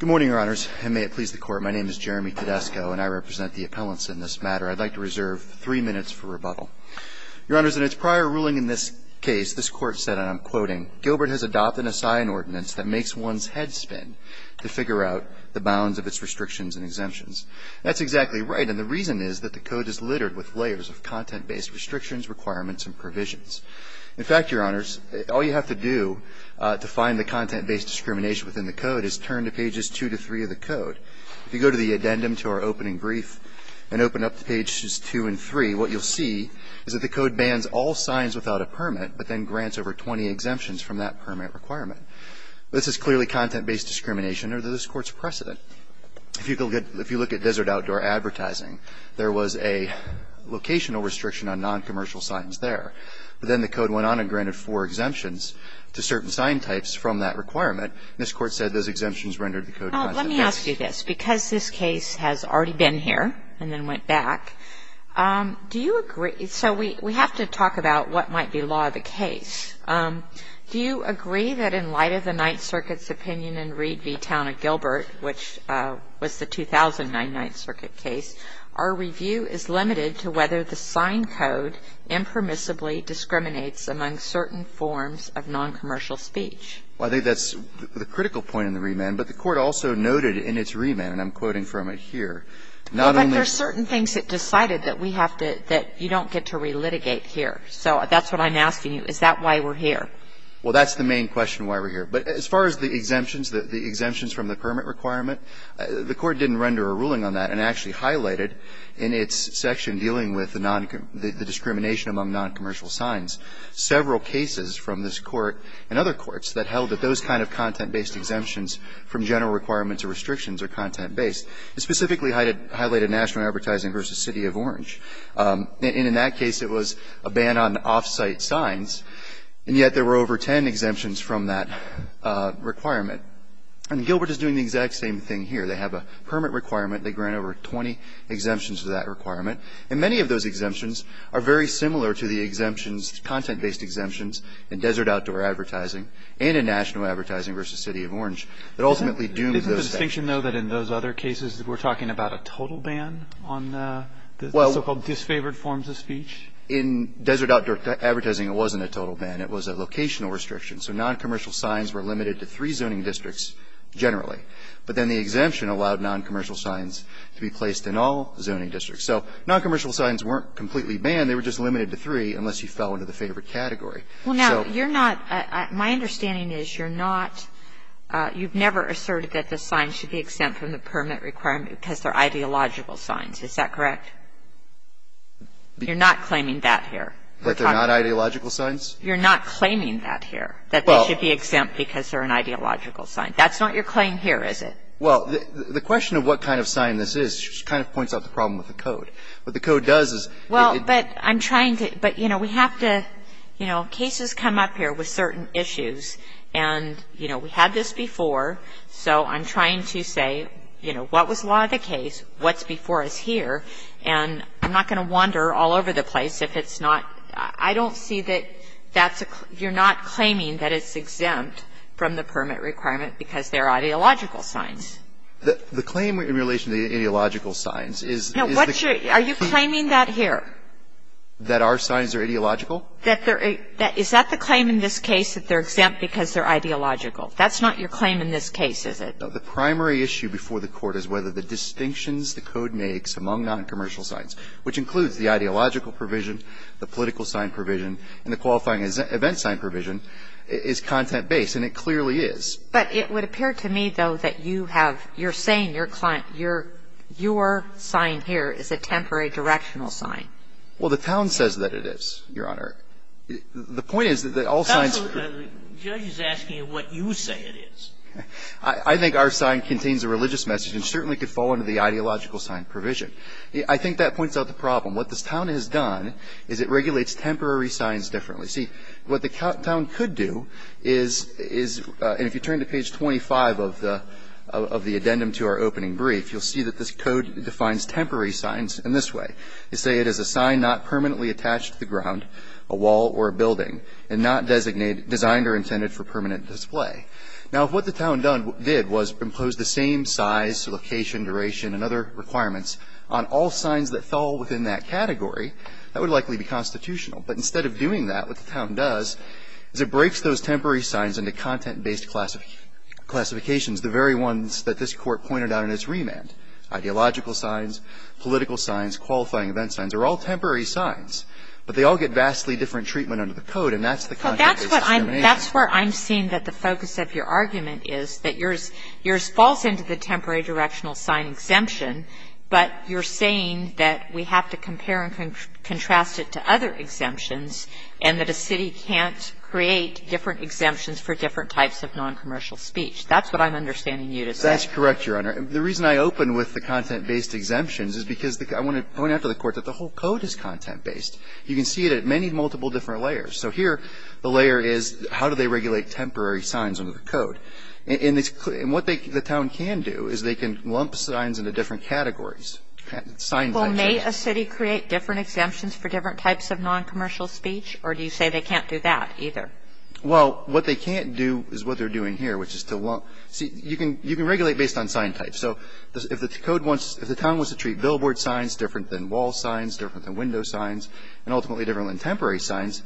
Good morning, Your Honors, and may it please the Court, my name is Jeremy Tedesco and I represent the appellants in this matter. I'd like to reserve three minutes for rebuttal. Your Honors, in its prior ruling in this case, this Court said, and I'm quoting, Gilbert has adopted a sign ordinance that makes one's head spin to figure out the bounds of its restrictions and exemptions. That's exactly right, and the reason is that the Code is littered with layers of content-based restrictions, requirements, and provisions. In fact, Your Honors, all you have to do to find the content-based discrimination within the Code is turn to pages 2 to 3 of the Code. If you go to the addendum to our opening brief and open up to pages 2 and 3, what you'll see is that the Code bans all signs without a permit, but then grants over 20 exemptions from that permit requirement. This is clearly content-based discrimination under this Court's precedent. If you look at desert outdoor advertising, there was a locational restriction on noncommercial signs there. But then the Code went on and granted four exemptions to certain sign types from that requirement. This Court said those exemptions rendered the Code content-based. Well, let me ask you this. Because this case has already been here and then went back, do you agree so we have to talk about what might be law of the case. Do you agree that in light of the Ninth Circuit's opinion in Reed v. Town of Gilbert, which was the 2009 Ninth Circuit case, our review is limited to whether the sign code impermissibly discriminates among certain forms of noncommercial speech? Well, I think that's the critical point in the remand. But the Court also noted in its remand, and I'm quoting from it here, not only Well, but there are certain things it decided that we have to, that you don't get to relitigate here. So that's what I'm asking you. Is that why we're here? Well, that's the main question why we're here. But as far as the exemptions, the exemptions from the permit requirement, the Court didn't render a ruling on that and actually highlighted in its section dealing with the noncommercial the discrimination among noncommercial signs, several cases from this Court and other courts that held that those kind of content-based exemptions from general requirements or restrictions are content-based. It specifically highlighted national advertising v. City of Orange. And in that case, it was a ban on off-site signs. And yet there were over 10 exemptions from that requirement. And Gilbert is doing the exact same thing here. They have a permit requirement. They grant over 20 exemptions to that requirement. And many of those exemptions are very similar to the exemptions, content-based exemptions, in desert outdoor advertising and in national advertising v. City of Orange that ultimately doomed those things. Isn't the distinction, though, that in those other cases we're talking about a total ban on the so-called disfavored forms of speech? In desert outdoor advertising, it wasn't a total ban. It was a locational restriction. So noncommercial signs were limited to three zoning districts generally. But then the exemption allowed noncommercial signs to be placed in all zoning districts. So noncommercial signs weren't completely banned. They were just limited to three unless you fell into the favored category. So you're not my understanding is you're not you've never asserted that the sign should be exempt from the permit requirement because they're ideological signs. Is that correct? You're not claiming that here. That they're not ideological signs? You're not claiming that here, that they should be exempt because they're an ideological sign. That's not your claim here, is it? Well, the question of what kind of sign this is just kind of points out the problem with the code. What the code does is it Well, but I'm trying to but, you know, we have to, you know, cases come up here with certain issues. And, you know, we had this before. So I'm trying to say, you know, what was law of the case? What's before us here? And I'm not going to wander all over the place if it's not I don't see that that's a you're not claiming that it's exempt from the permit requirement because they're ideological signs. The claim in relation to the ideological signs is No, what's your Are you claiming that here? That our signs are ideological? Is that the claim in this case that they're exempt because they're ideological? That's not your claim in this case, is it? No. The primary issue before the Court is whether the distinctions the code makes among noncommercial signs, which includes the ideological provision, the political sign provision, and the qualifying event sign provision, is content-based. And it clearly is. But it would appear to me, though, that you have you're saying your sign here is a temporary directional sign. Well, the town says that it is, Your Honor. The point is that all signs The judge is asking what you say it is. I think our sign contains a religious message and certainly could fall under the ideological sign provision. I think that points out the problem. What this town has done is it regulates temporary signs differently. See, what the town could do is if you turn to page 25 of the addendum to our opening brief, you'll see that this code defines temporary signs in this way. They say it is a sign not permanently attached to the ground, a wall or a building, and not designed or intended for permanent display. Now, if what the town did was impose the same size, location, duration, and other requirements on all signs that fell within that category, that would likely be constitutional. But instead of doing that, what the town does is it breaks those temporary signs into content-based classifications, the very ones that this Court pointed out in its remand, ideological signs, political signs, qualifying event signs. They're all temporary signs. But they all get vastly different treatment under the code. And that's the content-based discrimination. Kagan. Well, that's what I'm seeing that the focus of your argument is, that yours falls into the temporary directional sign exemption, but you're saying that we have to compare and contrast it to other exemptions and that a city can't create different exemptions for different types of noncommercial speech. That's what I'm understanding you to say. That's correct, Your Honor. The reason I open with the content-based exemptions is because I want to point out to the Court that the whole code is content-based. You can see it at many multiple different layers. So here, the layer is, how do they regulate temporary signs under the code? And what the town can do is they can lump signs into different categories, sign types. Well, may a city create different exemptions for different types of noncommercial speech, or do you say they can't do that either? Well, what they can't do is what they're doing here, which is to lump. See, you can regulate based on sign types. So if the town wants to treat billboard signs different than wall signs, different than window signs, and ultimately different than temporary signs,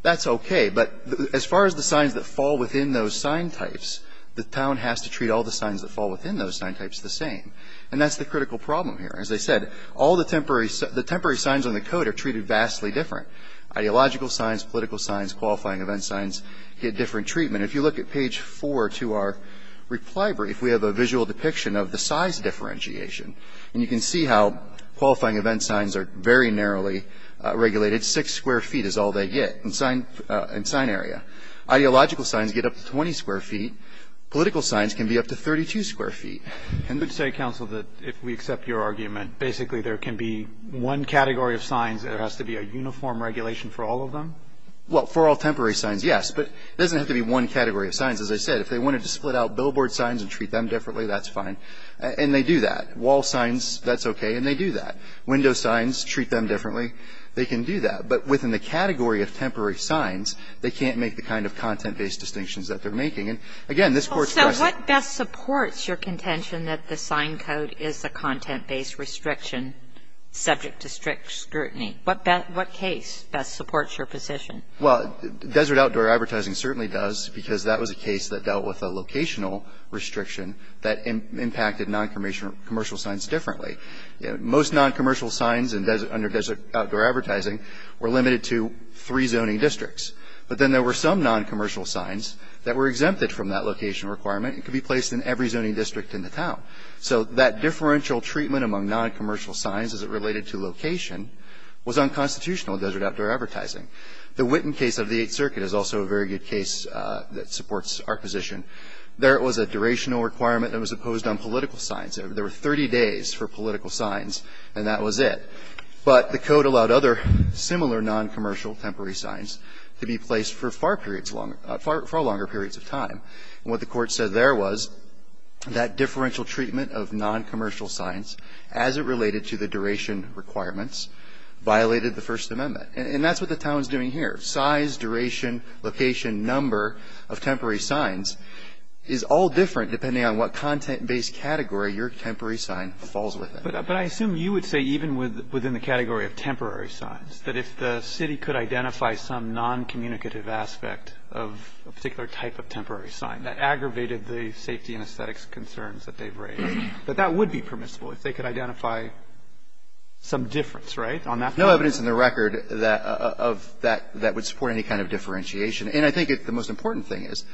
that's okay. But as far as the signs that fall within those sign types, the town has to treat all the signs that fall within those sign types the same. And that's the critical problem here. As I said, all the temporary signs on the code are treated vastly different. Ideological signs, political signs, qualifying event signs get different treatment. If you look at page 4 to our reply brief, we have a visual depiction of the size differentiation. And you can see how qualifying event signs are very narrowly regulated. Six square feet is all they get in sign area. Ideological signs get up to 20 square feet. Political signs can be up to 32 square feet. I would say, counsel, that if we accept your argument, basically there can be one category of signs, there has to be a uniform regulation for all of them? Well, for all temporary signs, yes. But it doesn't have to be one category of signs. As I said, if they wanted to split out billboard signs and treat them differently, that's fine. And they do that. Wall signs, that's okay. And they do that. Window signs, treat them differently. They can do that. But within the category of temporary signs, they can't make the kind of content-based distinctions that they're making. And, again, this Court's question ---- So what best supports your contention that the sign code is a content-based restriction subject to strict scrutiny? What case best supports your position? Well, desert outdoor advertising certainly does because that was a case that dealt with a locational restriction that impacted noncommercial signs differently. Most noncommercial signs under desert outdoor advertising were limited to three zoning districts. But then there were some noncommercial signs that were exempted from that location requirement and could be placed in every zoning district in the town. So that differential treatment among noncommercial signs as it related to location was unconstitutional in desert outdoor advertising. The Winton case of the Eighth Circuit is also a very good case that supports our position. There was a durational requirement that was imposed on political signs. There were 30 days for political signs, and that was it. But the Code allowed other similar noncommercial temporary signs to be placed for far periods longer ---- far longer periods of time. And what the Court said there was that differential treatment of noncommercial signs as it related to the duration requirements violated the First Amendment. And that's what the town is doing here. Size, duration, location, number of temporary signs is all different depending on what content-based category your temporary sign falls within. But I assume you would say even within the category of temporary signs that if the city could identify some noncommunicative aspect of a particular type of temporary sign that aggravated the safety and aesthetics concerns that they've raised, that that would be permissible if they could identify some difference, right? On that point? No evidence in the record of that would support any kind of differentiation. And I think the most important thing is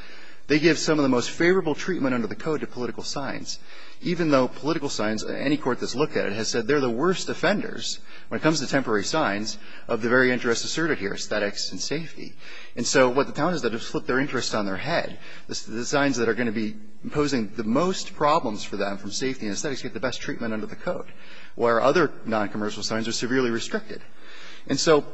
they give some of the most favorable treatment under the Code to political signs, even though political signs, any court that's looked at it, has said they're the worst offenders when it comes to temporary signs of the very interests asserted here, aesthetics and safety. And so what the town has done is flip their interests on their head. The signs that are going to be imposing the most problems for them from safety and aesthetics get the best treatment under the Code, where other noncommercial signs are severely restricted. And so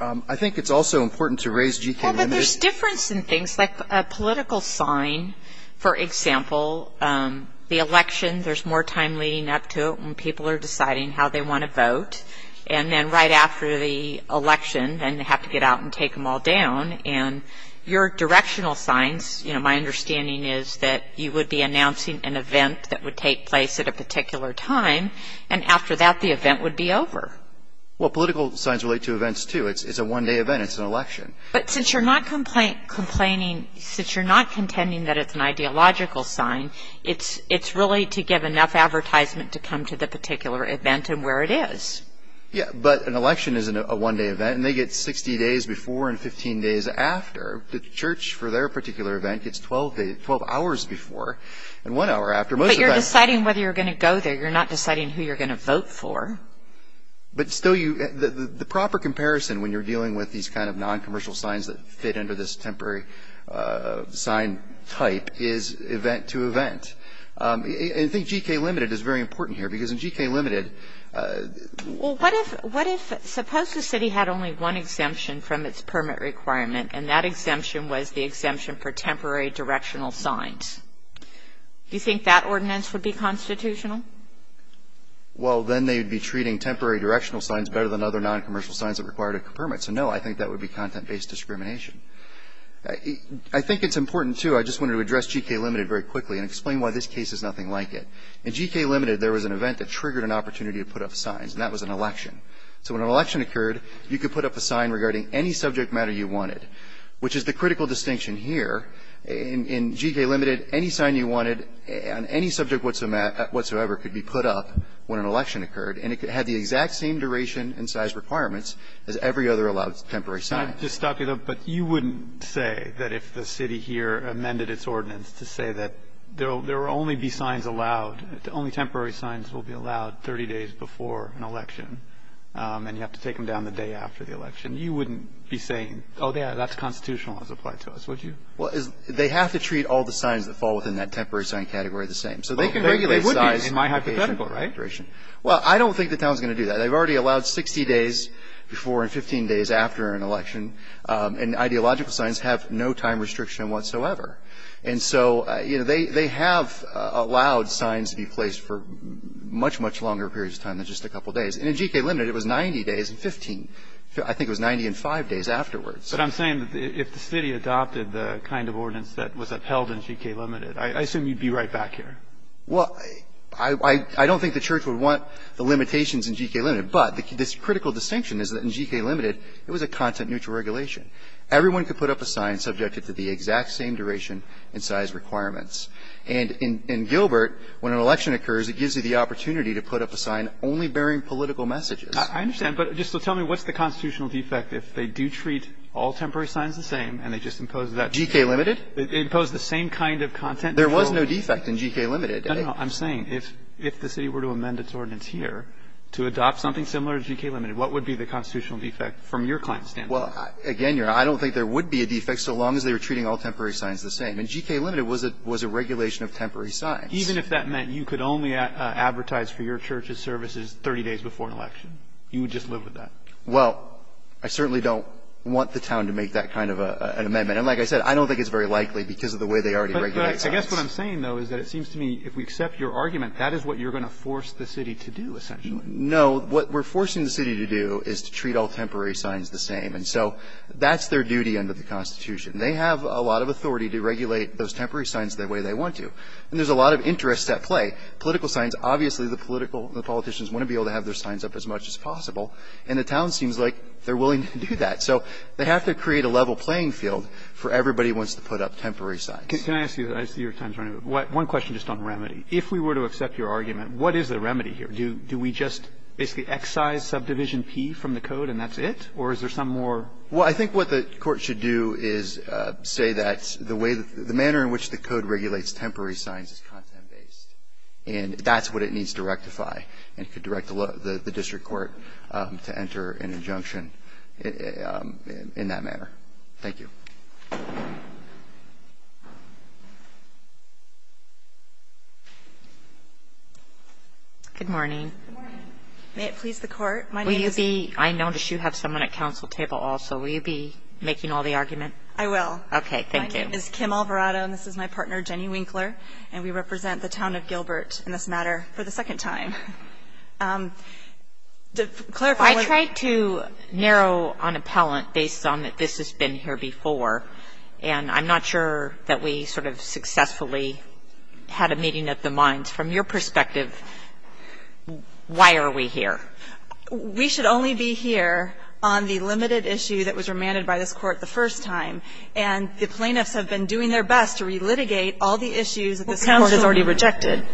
I think it's also important to raise GK limits. Well, but there's difference in things like a political sign. For example, the election, there's more time leading up to it when people are deciding how they want to vote. And then right after the election, then they have to get out and take them all down. And your directional signs, you know, my understanding is that you would be announcing an event that would take place at a particular time, and after that the event would be over. Well, political signs relate to events, too. It's a one-day event. It's an election. But since you're not complaining, since you're not contending that it's an ideological sign, it's really to give enough advertisement to come to the particular event and where it is. Yeah, but an election is a one-day event, and they get 60 days before and 15 days after. The church, for their particular event, gets 12 hours before and one hour after. But you're deciding whether you're going to go there. You're not deciding who you're going to vote for. But still, the proper comparison when you're dealing with these kind of noncommercial signs that fit under this temporary sign type is event to event. And I think G.K. Limited is very important here because in G.K. Limited. Well, what if suppose the city had only one exemption from its permit requirement, and that exemption was the exemption for temporary directional signs? Do you think that ordinance would be constitutional? Well, then they'd be treating temporary directional signs better than other noncommercial signs that required a permit. So, no, I think that would be content-based discrimination. I think it's important, too. I just wanted to address G.K. Limited very quickly and explain why this case is nothing like it. In G.K. Limited, there was an event that triggered an opportunity to put up signs, and that was an election. So when an election occurred, you could put up a sign regarding any subject matter you wanted, which is the critical distinction here. In G.K. Limited, any sign you wanted on any subject whatsoever could be put up when an election occurred. And it had the exact same duration and size requirements as every other allowed temporary sign. I'll just stop you there. But you wouldn't say that if the city here amended its ordinance to say that there will only be signs allowed, only temporary signs will be allowed 30 days before an election, and you have to take them down the day after the election. You wouldn't be saying, oh, yeah, that's constitutional as applied to us, would you? Well, they have to treat all the signs that fall within that temporary sign category the same. So they can regulate size. They would be in my hypothetical, right? Well, I don't think the town is going to do that. They've already allowed 60 days before and 15 days after an election, and ideological signs have no time restriction whatsoever. And so, you know, they have allowed signs to be placed for much, much longer periods of time than just a couple days. And in G.K. Limited, it was 90 days and 15. I think it was 90 and 5 days afterwards. But I'm saying if the city adopted the kind of ordinance that was upheld in G.K. Limited, I assume you'd be right back here. Well, I don't think the church would want the limitations in G.K. Limited, but this critical distinction is that in G.K. Limited, it was a content-neutral regulation. Everyone could put up a sign subjected to the exact same duration and size requirements. And in Gilbert, when an election occurs, it gives you the opportunity to put up a sign only bearing political messages. I understand. But just tell me, what's the constitutional defect if they do treat all temporary signs the same and they just impose that? G.K. Limited? They impose the same kind of content-neutral? There was no defect in G.K. Limited. No, no. I'm saying if the city were to amend its ordinance here to adopt something similar to G.K. Limited, what would be the constitutional defect from your client's standpoint? Well, again, I don't think there would be a defect so long as they were treating all temporary signs the same. In G.K. Limited, it was a regulation of temporary signs. Even if that meant you could only advertise for your church's services 30 days before an election, you would just live with that? Well, I certainly don't want the town to make that kind of an amendment. And like I said, I don't think it's very likely because of the way they already regulate signs. But I guess what I'm saying, though, is that it seems to me if we accept your argument, that is what you're going to force the city to do, essentially. No. What we're forcing the city to do is to treat all temporary signs the same. And so that's their duty under the Constitution. They have a lot of authority to regulate those temporary signs the way they want to. And there's a lot of interest at play. Political signs, obviously the political, the politicians want to be able to have their signs up as much as possible. And the town seems like they're willing to do that. So they have to create a level playing field for everybody who wants to put up temporary signs. Can I ask you? I see your time's running. One question just on remedy. If we were to accept your argument, what is the remedy here? Do we just basically excise subdivision P from the code and that's it? Or is there some more? Well, I think what the Court should do is say that the way that the manner in which the code regulates temporary signs is content-based. And that's what it needs to rectify. And it could direct the district court to enter an injunction in that manner. Thank you. Good morning. Good morning. May it please the Court? My name is Kim Alvarado. I notice you have someone at counsel table also. Will you be making all the argument? I will. Okay, thank you. My name is Kim Alvarado. And this is my partner, Jenny Winkler. And we represent the town of Gilbert in this matter for the second time. To clarify. I tried to narrow on appellant based on that this has been here before. And I'm not sure that we sort of successfully had a meeting of the minds. From your perspective, why are we here? We should only be here on the limited issue that was remanded by this Court the first time. And the plaintiffs have been doing their best to relitigate all the issues that this Court has already rejected.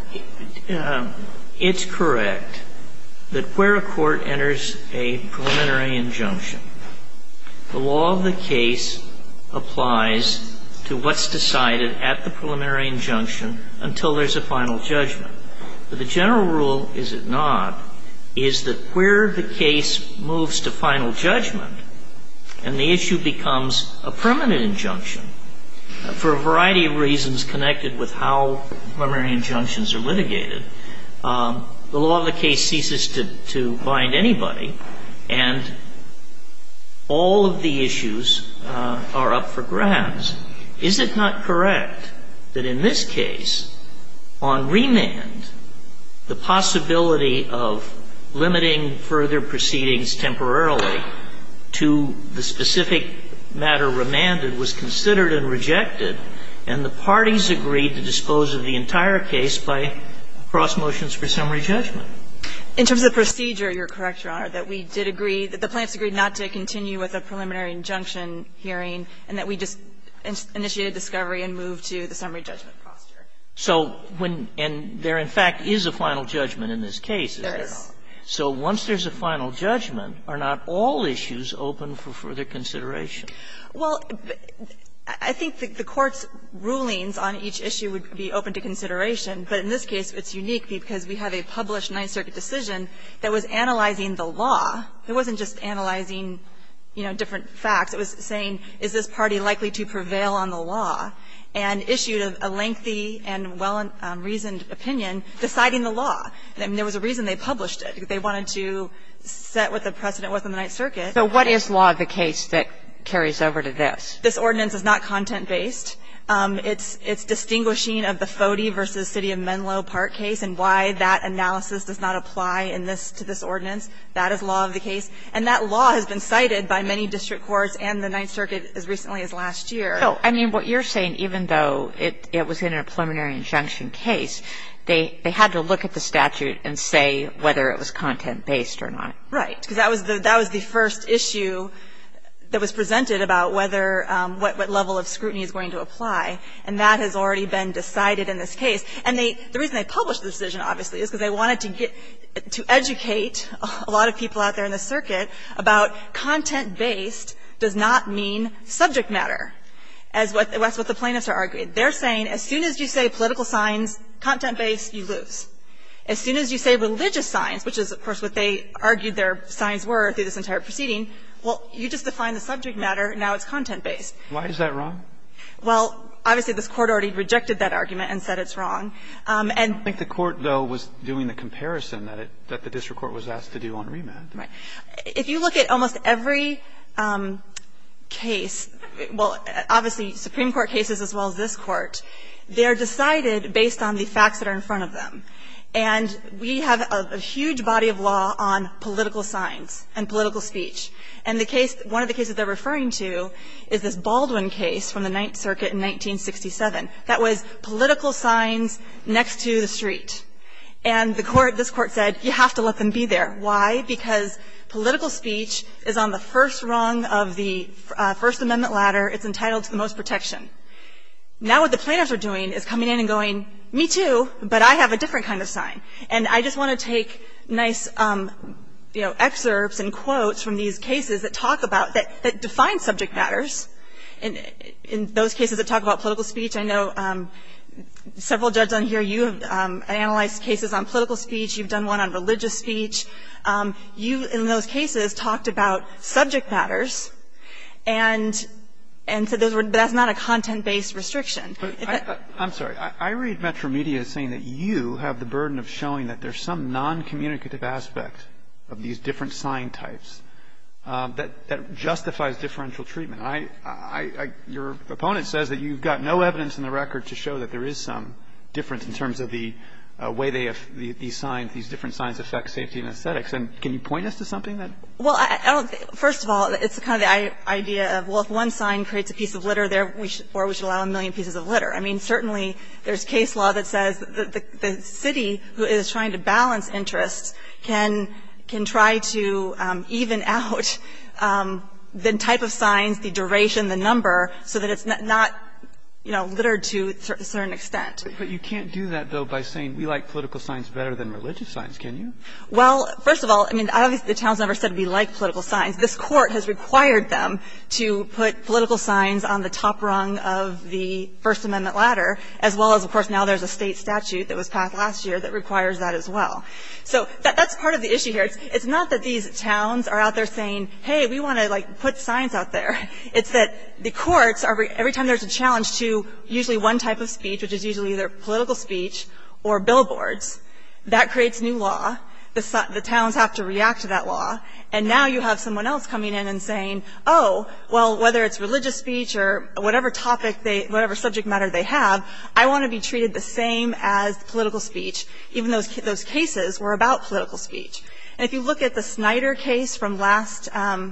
It's correct that where a court enters a preliminary injunction, the law of the case applies to what's decided at the preliminary injunction until there's a final judgment. But the general rule, is it not, is that where the case moves to final judgment and the issue becomes a permanent injunction, for a variety of reasons connected with how preliminary injunctions are litigated, the law of the case ceases to bind anybody. And all of the issues are up for grabs. Is it not correct that in this case, on remand, the possibility of limiting further proceedings temporarily to the specific matter remanded was considered and rejected, and the parties agreed to dispose of the entire case by cross motions for summary judgment? In terms of procedure, You're correct, Your Honor, that we did agree, that the plaintiffs agreed not to continue with a preliminary injunction hearing, and that we just initiated discovery and moved to the summary judgment posture. So when and there, in fact, is a final judgment in this case, is there not? There is. So once there's a final judgment, are not all issues open for further consideration? Well, I think the Court's rulings on each issue would be open to consideration. But in this case, it's unique because we have a published Ninth Circuit decision that was analyzing the law. It wasn't just analyzing, you know, different facts. It was saying, is this party likely to prevail on the law? And issued a lengthy and well-reasoned opinion deciding the law. And there was a reason they published it. They wanted to set what the precedent was in the Ninth Circuit. So what is law of the case that carries over to this? This ordinance is not content-based. It's distinguishing of the Fody v. City of Menlo Park case and why that analysis does not apply in this to this ordinance. That is law of the case. And that law has been cited by many district courts and the Ninth Circuit as recently as last year. No. I mean, what you're saying, even though it was in a preliminary injunction case, they had to look at the statute and say whether it was content-based or not. Right. Because that was the first issue that was presented about whether what level of scrutiny is going to apply. And that has already been decided in this case. And the reason they published the decision, obviously, is because they wanted to get to educate a lot of people out there in the circuit about content-based does not mean subject matter. That's what the plaintiffs are arguing. They're saying as soon as you say political signs, content-based, you lose. As soon as you say religious signs, which is, of course, what they argued their signs were through this entire proceeding, well, you just defined the subject matter. Now it's content-based. Why is that wrong? Well, obviously, this Court already rejected that argument and said it's wrong. And the Court, though, was doing the comparison that the district court was asked to do on remand. Right. If you look at almost every case, well, obviously, Supreme Court cases as well as this Court, they are decided based on the facts that are in front of them. And we have a huge body of law on political signs and political speech. And the case, one of the cases they're referring to is this Baldwin case from the Ninth Circuit in 1967. That was political signs next to the street. And the Court, this Court said you have to let them be there. Why? Because political speech is on the first rung of the First Amendment ladder. It's entitled to the most protection. Now what the plaintiffs are doing is coming in and going, me too, but I have a different kind of sign. And I just want to take nice, you know, excerpts and quotes from these cases that talk about, that define subject matters. In those cases that talk about political speech, I know several judges on here, you have analyzed cases on political speech. You've done one on religious speech. You, in those cases, talked about subject matters and said that's not a content-based restriction. I'm sorry. I read Metro Media as saying that you have the burden of showing that there's some noncommunicative aspect of these different sign types that justifies differential treatment. I, I, your opponent says that you've got no evidence in the record to show that there is some difference in terms of the way they have these signs, these different signs affect safety and aesthetics. And can you point us to something that? Well, I don't think, first of all, it's kind of the idea of, well, if one sign creates a piece of litter there, we should, or we should allow a million pieces of litter. I mean, certainly there's case law that says the city who is trying to balance their interests can, can try to even out the type of signs, the duration, the number, so that it's not, you know, littered to a certain extent. But you can't do that, though, by saying we like political signs better than religious signs, can you? Well, first of all, I mean, obviously the town's never said we like political signs. This Court has required them to put political signs on the top rung of the First Amendment ladder, as well as, of course, now there's a State statute that was passed last year that requires that as well. So that's part of the issue here. It's not that these towns are out there saying, hey, we want to, like, put signs out there. It's that the courts are, every time there's a challenge to usually one type of speech, which is usually either political speech or billboards, that creates new law. The towns have to react to that law. And now you have someone else coming in and saying, oh, well, whether it's religious speech or whatever topic, whatever subject matter they have, I want to be treated the same as political speech, even though those cases were about political speech. And if you look at the Snyder case from last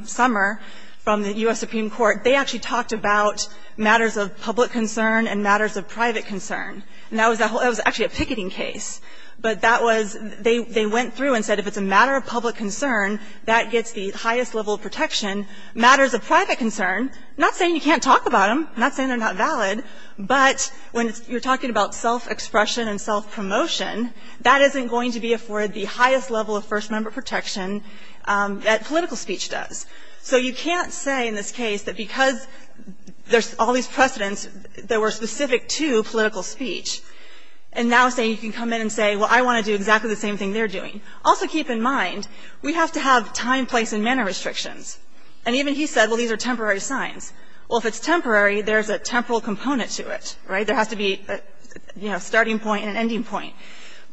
summer from the U.S. Supreme Court, they actually talked about matters of public concern and matters of private concern. And that was actually a picketing case. But that was, they went through and said if it's a matter of public concern, that gets the highest level of protection. Matters of private concern, not saying you can't talk about them, not saying they're not valid. But when you're talking about self-expression and self-promotion, that isn't going to be afforded the highest level of first member protection that political speech does. So you can't say in this case that because there's all these precedents that were specific to political speech and now say you can come in and say, well, I want to do exactly the same thing they're doing. Also, keep in mind, we have to have time, place and manner restrictions. And even he said, well, these are temporary signs. Well, if it's temporary, there's a temporal component to it, right? There has to be, you know, a starting point and an ending point.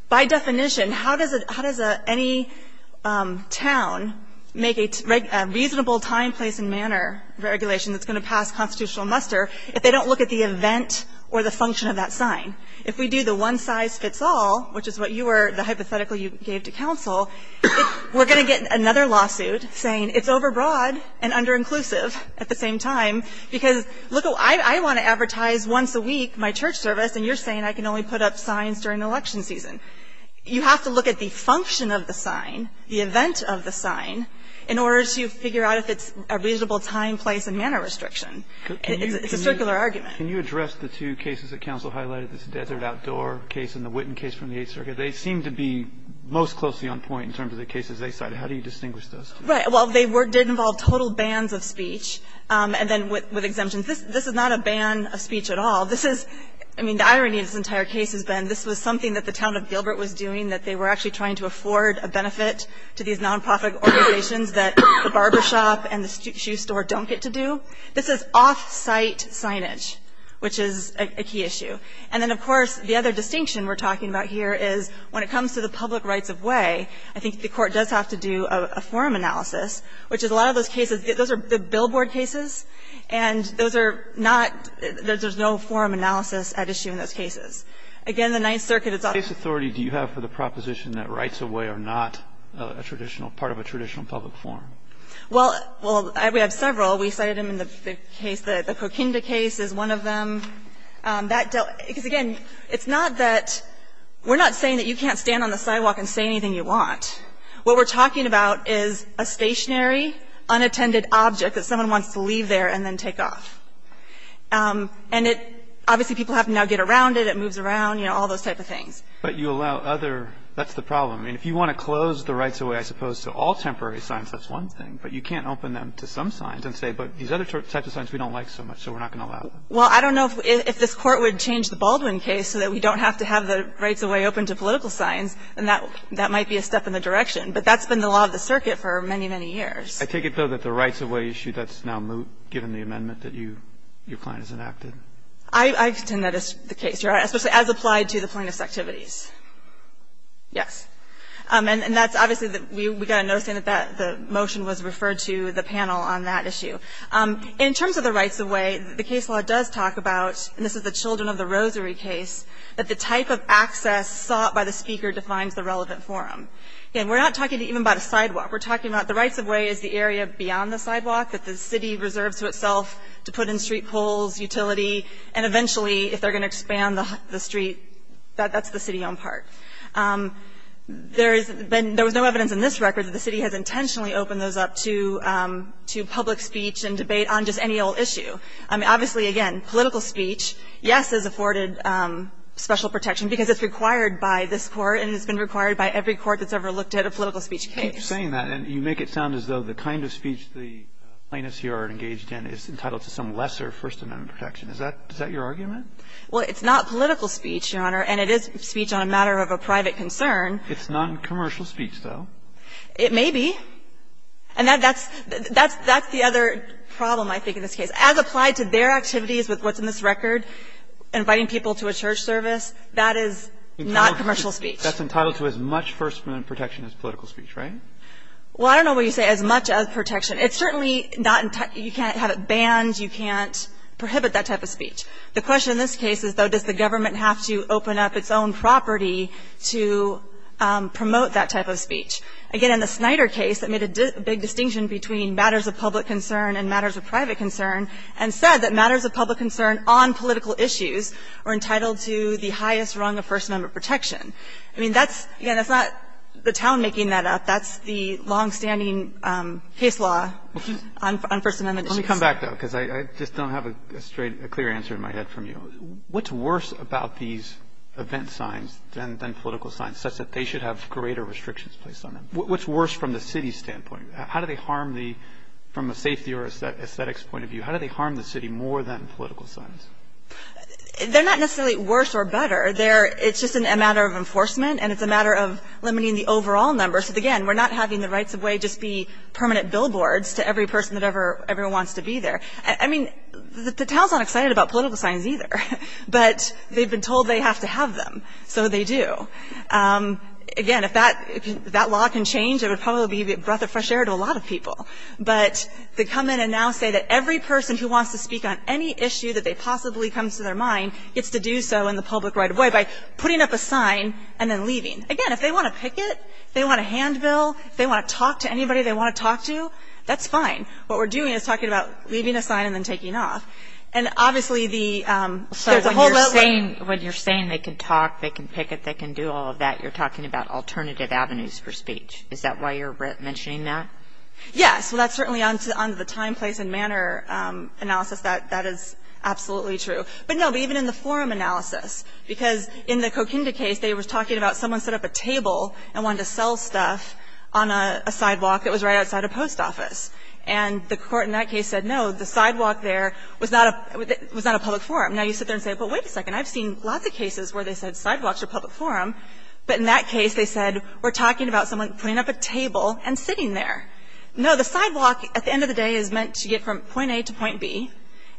By definition, how does it, how does any town make a reasonable time, place and manner regulation that's going to pass constitutional muster if they don't look at the event or the function of that sign? If we do the one-size-fits-all, which is what you were, the hypothetical you gave to counsel, we're going to get another lawsuit saying it's overbroad and under-inclusive at the same time because, look, I want to advertise once a week my church service and you're saying I can only put up signs during election season. You have to look at the function of the sign, the event of the sign, in order to figure out if it's a reasonable time, place and manner restriction. It's a circular argument. Can you address the two cases that counsel highlighted, this Desert Outdoor case and the Witten case from the Eighth Circuit? They seem to be most closely on point in terms of the cases they cited. How do you distinguish those two? Right. Well, they did involve total bans of speech, and then with exemptions. This is not a ban of speech at all. This is, I mean, the irony of this entire case has been this was something that the town of Gilbert was doing, that they were actually trying to afford a benefit to these nonprofit organizations that the barbershop and the shoe store don't get to do. This is off-site signage, which is a key issue. And then, of course, the other distinction we're talking about here is when it comes to the public rights of way, I think the Court does have to do a forum analysis which is a lot of those cases, those are billboard cases, and those are not, there's no forum analysis at issue in those cases. Again, the Ninth Circuit is not. What case authority do you have for the proposition that rights of way are not a traditional part of a traditional public forum? Well, we have several. We cited them in the case, the Coquinda case is one of them. That dealt, because again, it's not that, we're not saying that you can't stand on the sidewalk and say anything you want. What we're talking about is a stationary, unattended object that someone wants to leave there and then take off. And it, obviously people have to now get around it, it moves around, you know, all those type of things. But you allow other, that's the problem. I mean, if you want to close the rights of way, I suppose, to all temporary signs, that's one thing, but you can't open them to some signs and say, but these other types of signs we don't like so much, so we're not going to allow them. Well, I don't know if this Court would change the Baldwin case so that we don't have to have the rights of way open to political signs, then that might be a step in the direction. But that's been the law of the circuit for many, many years. I take it, though, that the rights of way issue, that's now given the amendment that you, your client has enacted? I contend that is the case, especially as applied to the plaintiff's activities. Yes. And that's obviously, we got a notion that the motion was referred to the panel on that issue. In terms of the rights of way, the case law does talk about, and this is the Children of the Rosary case, that the type of access sought by the speaker defines the relevant forum. Again, we're not talking even about a sidewalk. We're talking about the rights of way is the area beyond the sidewalk that the city reserves to itself to put in street poles, utility, and eventually, if they're going to expand the street, that's the city on part. There has been no evidence in this record that the city has intentionally opened those up to public speech and debate on just any old issue. I mean, obviously, again, political speech, yes, is afforded special protection because it's required by this Court and it's been required by every court that's ever looked at a political speech case. You're saying that, and you make it sound as though the kind of speech the plaintiffs here are engaged in is entitled to some lesser First Amendment protection. Is that your argument? Well, it's not political speech, Your Honor, and it is speech on a matter of a private concern. It's noncommercial speech, though. It may be. And that's the other problem, I think, in this case. As applied to their activities with what's in this record, inviting people to a church service, that is not commercial speech. That's entitled to as much First Amendment protection as political speech, right? Well, I don't know what you say, as much as protection. It's certainly not entitled to you can't have it banned. You can't prohibit that type of speech. The question in this case is, though, does the government have to open up its own property to promote that type of speech? Again, in the Snyder case, it made a big distinction between matters of public concern and matters of private concern, and said that matters of public concern on political issues are entitled to the highest rung of First Amendment protection. I mean, that's, again, that's not the town making that up. That's the longstanding case law on First Amendment issues. Let me come back, though, because I just don't have a straight, a clear answer in my head from you. What's worse about these event signs than political signs, such that they should have greater restrictions placed on them? What's worse from the city's standpoint? How do they harm the, from a safety or aesthetics point of view, how do they harm the city more than political signs? They're not necessarily worse or better. They're, it's just a matter of enforcement, and it's a matter of limiting the overall number. So again, we're not having the rights of way just be permanent billboards to every person that ever, everyone wants to be there. I mean, the town's not excited about political signs either. But they've been told they have to have them, so they do. Again, if that law can change, it would probably be a breath of fresh air to a lot of people. But they come in and now say that every person who wants to speak on any issue that they possibly come to their mind gets to do so in the public right of way by putting up a sign and then leaving. Again, if they want to picket, if they want to handbill, if they want to talk to anybody they want to talk to, that's fine. What we're doing is talking about leaving a sign and then taking off. And obviously, the whole level of the law is that they can picket, they can do whatever And when you say that, you're not talking about a public forum. When you do all of that, you're talking about alternative avenues for speech. Is that why you're mentioning that? Yes. Well, that's certainly on to the time, place and manner analysis. That is absolutely true. But, no, even in the forum analysis. Because in the Coquinda case, they were talking about someone set up a table and wanted to sell stuff on a sidewalk that was right outside a post office. And the court in that case said, no, the sidewalk there was not a public forum. Now, you sit there and say, well, wait a second. I've seen lots of cases where they said sidewalks are a public forum. But in that case, they said, we're talking about someone putting up a table and sitting there. No, the sidewalk, at the end of the day, is meant to get from point A to point B.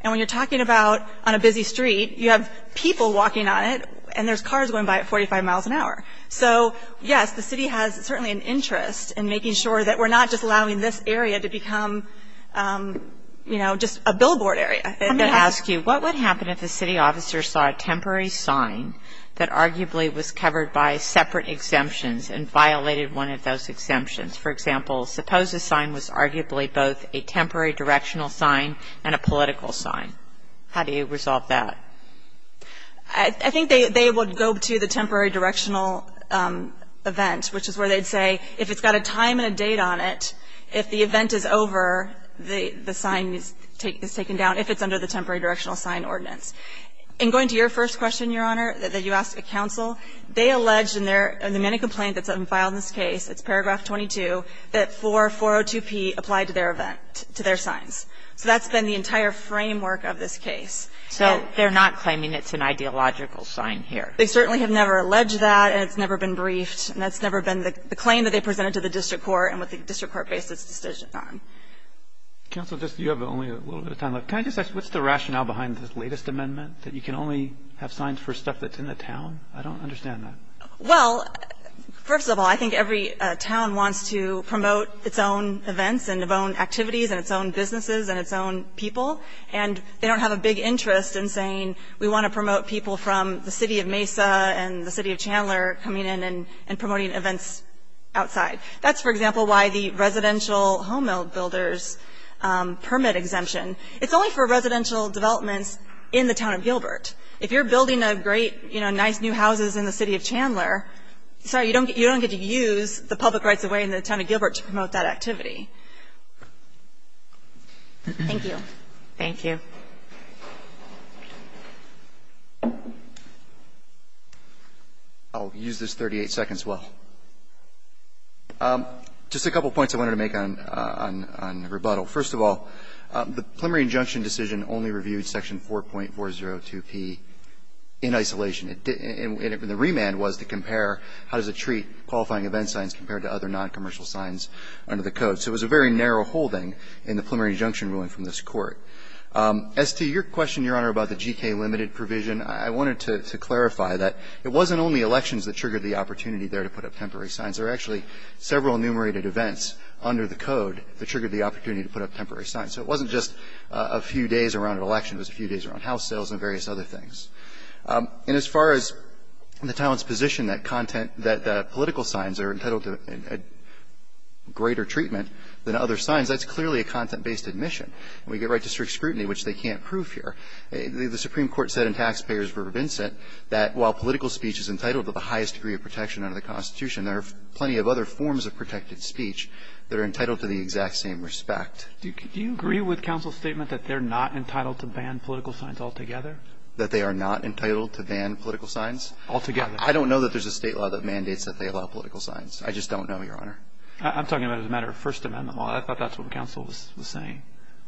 And when you're talking about on a busy street, you have people walking on it, and there's cars going by at 45 miles an hour. So, yes, the city has certainly an interest in making sure that we're not just allowing this area to become, you know, just a billboard area. Let me ask you, what would happen if a city officer saw a temporary sign that arguably was covered by separate exemptions and violated one of those exemptions? For example, suppose a sign was arguably both a temporary directional sign and a political sign. How do you resolve that? I think they would go to the temporary directional event, which is where they'd say, if it's got a time and a date on it, if the event is over, the sign is taken down, if it's under the temporary directional sign ordinance. In going to your first question, Your Honor, that you asked at counsel, they alleged in their mini-complaint that's been filed in this case, it's paragraph 22, that 4402p applied to their event, to their signs. So that's been the entire framework of this case. So they're not claiming it's an ideological sign here. They certainly have never alleged that, and it's never been briefed, and that's never been the claim that they presented to the district court and what the district court based its decision on. Counsel, you have only a little bit of time left. Can I just ask, what's the rationale behind this latest amendment, that you can only have signs for stuff that's in the town? I don't understand that. Well, first of all, I think every town wants to promote its own events and its own activities and its own businesses and its own people, and they don't have a big interest in saying we want to promote people from the city of Mesa and the city of Chandler coming in and promoting events outside. That's, for example, why the residential home-builders permit exemption. It's only for residential developments in the town of Gilbert. If you're building a great, nice new houses in the city of Chandler, you don't get to in the town of Gilbert to promote that activity. Thank you. Thank you. I'll use this 38 seconds as well. Just a couple of points I wanted to make on rebuttal. First of all, the preliminary injunction decision only reviewed Section 4.402p in isolation. And the remand was to compare how does it treat qualifying event signs compared to other noncommercial signs under the Code. So it was a very narrow holding in the preliminary injunction ruling from this Court. As to your question, Your Honor, about the G.K. limited provision, I wanted to clarify that it wasn't only elections that triggered the opportunity there to put up temporary signs. There were actually several enumerated events under the Code that triggered the opportunity to put up temporary signs. So it wasn't just a few days around an election. It was a few days around house sales and various other things. And as far as the town's position that content that political signs are entitled to greater treatment than other signs, that's clearly a content-based admission. We get right to strict scrutiny, which they can't prove here. The Supreme Court said in Taxpayer's Verb of Incent that while political speech is entitled to the highest degree of protection under the Constitution, there are plenty of other forms of protected speech that are entitled to the exact same respect. Do you agree with counsel's statement that they're not entitled to ban political signs altogether? That they are not entitled to ban political signs? Altogether. I don't know that there's a state law that mandates that they allow political signs. I just don't know, Your Honor. I'm talking about as a matter of First Amendment law. I thought that's what counsel was saying.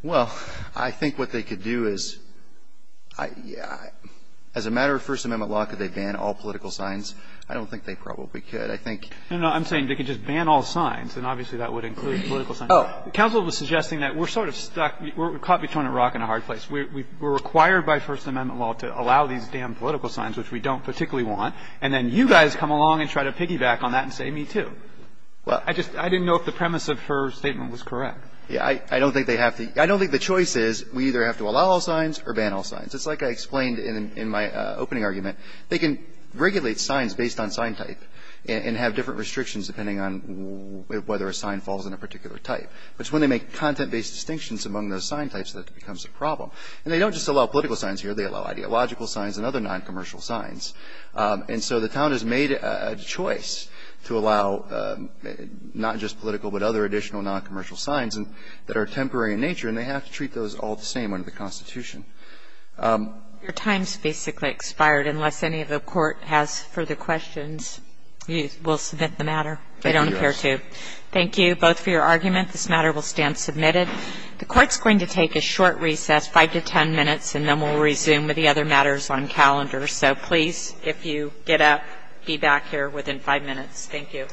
Well, I think what they could do is, as a matter of First Amendment law, could they ban all political signs? I don't think they probably could. I think. No, no. I'm saying they could just ban all signs. And obviously, that would include political signs. Counsel was suggesting that we're sort of stuck. We're caught between a rock and a hard place. We're required by First Amendment law to allow these damn political signs, which we don't particularly want. And then you guys come along and try to piggyback on that and say, me too. Well, I just didn't know if the premise of her statement was correct. Yeah. I don't think they have to. I don't think the choice is we either have to allow all signs or ban all signs. It's like I explained in my opening argument. They can regulate signs based on sign type and have different restrictions depending on whether a sign falls in a particular type. But when they make content-based distinctions among those sign types, that becomes a problem. And they don't just allow political signs here. They allow ideological signs and other noncommercial signs. And so the town has made a choice to allow not just political but other additional noncommercial signs that are temporary in nature. And they have to treat those all the same under the Constitution. Your time's basically expired. Unless any of the court has further questions, we'll submit the matter. They don't appear to. Thank you both for your argument. This matter will stand submitted. The court's going to take a short recess. Five to ten minutes. And then we'll resume with the other matters on calendar. So please, if you get up, be back here within five minutes. Thank you.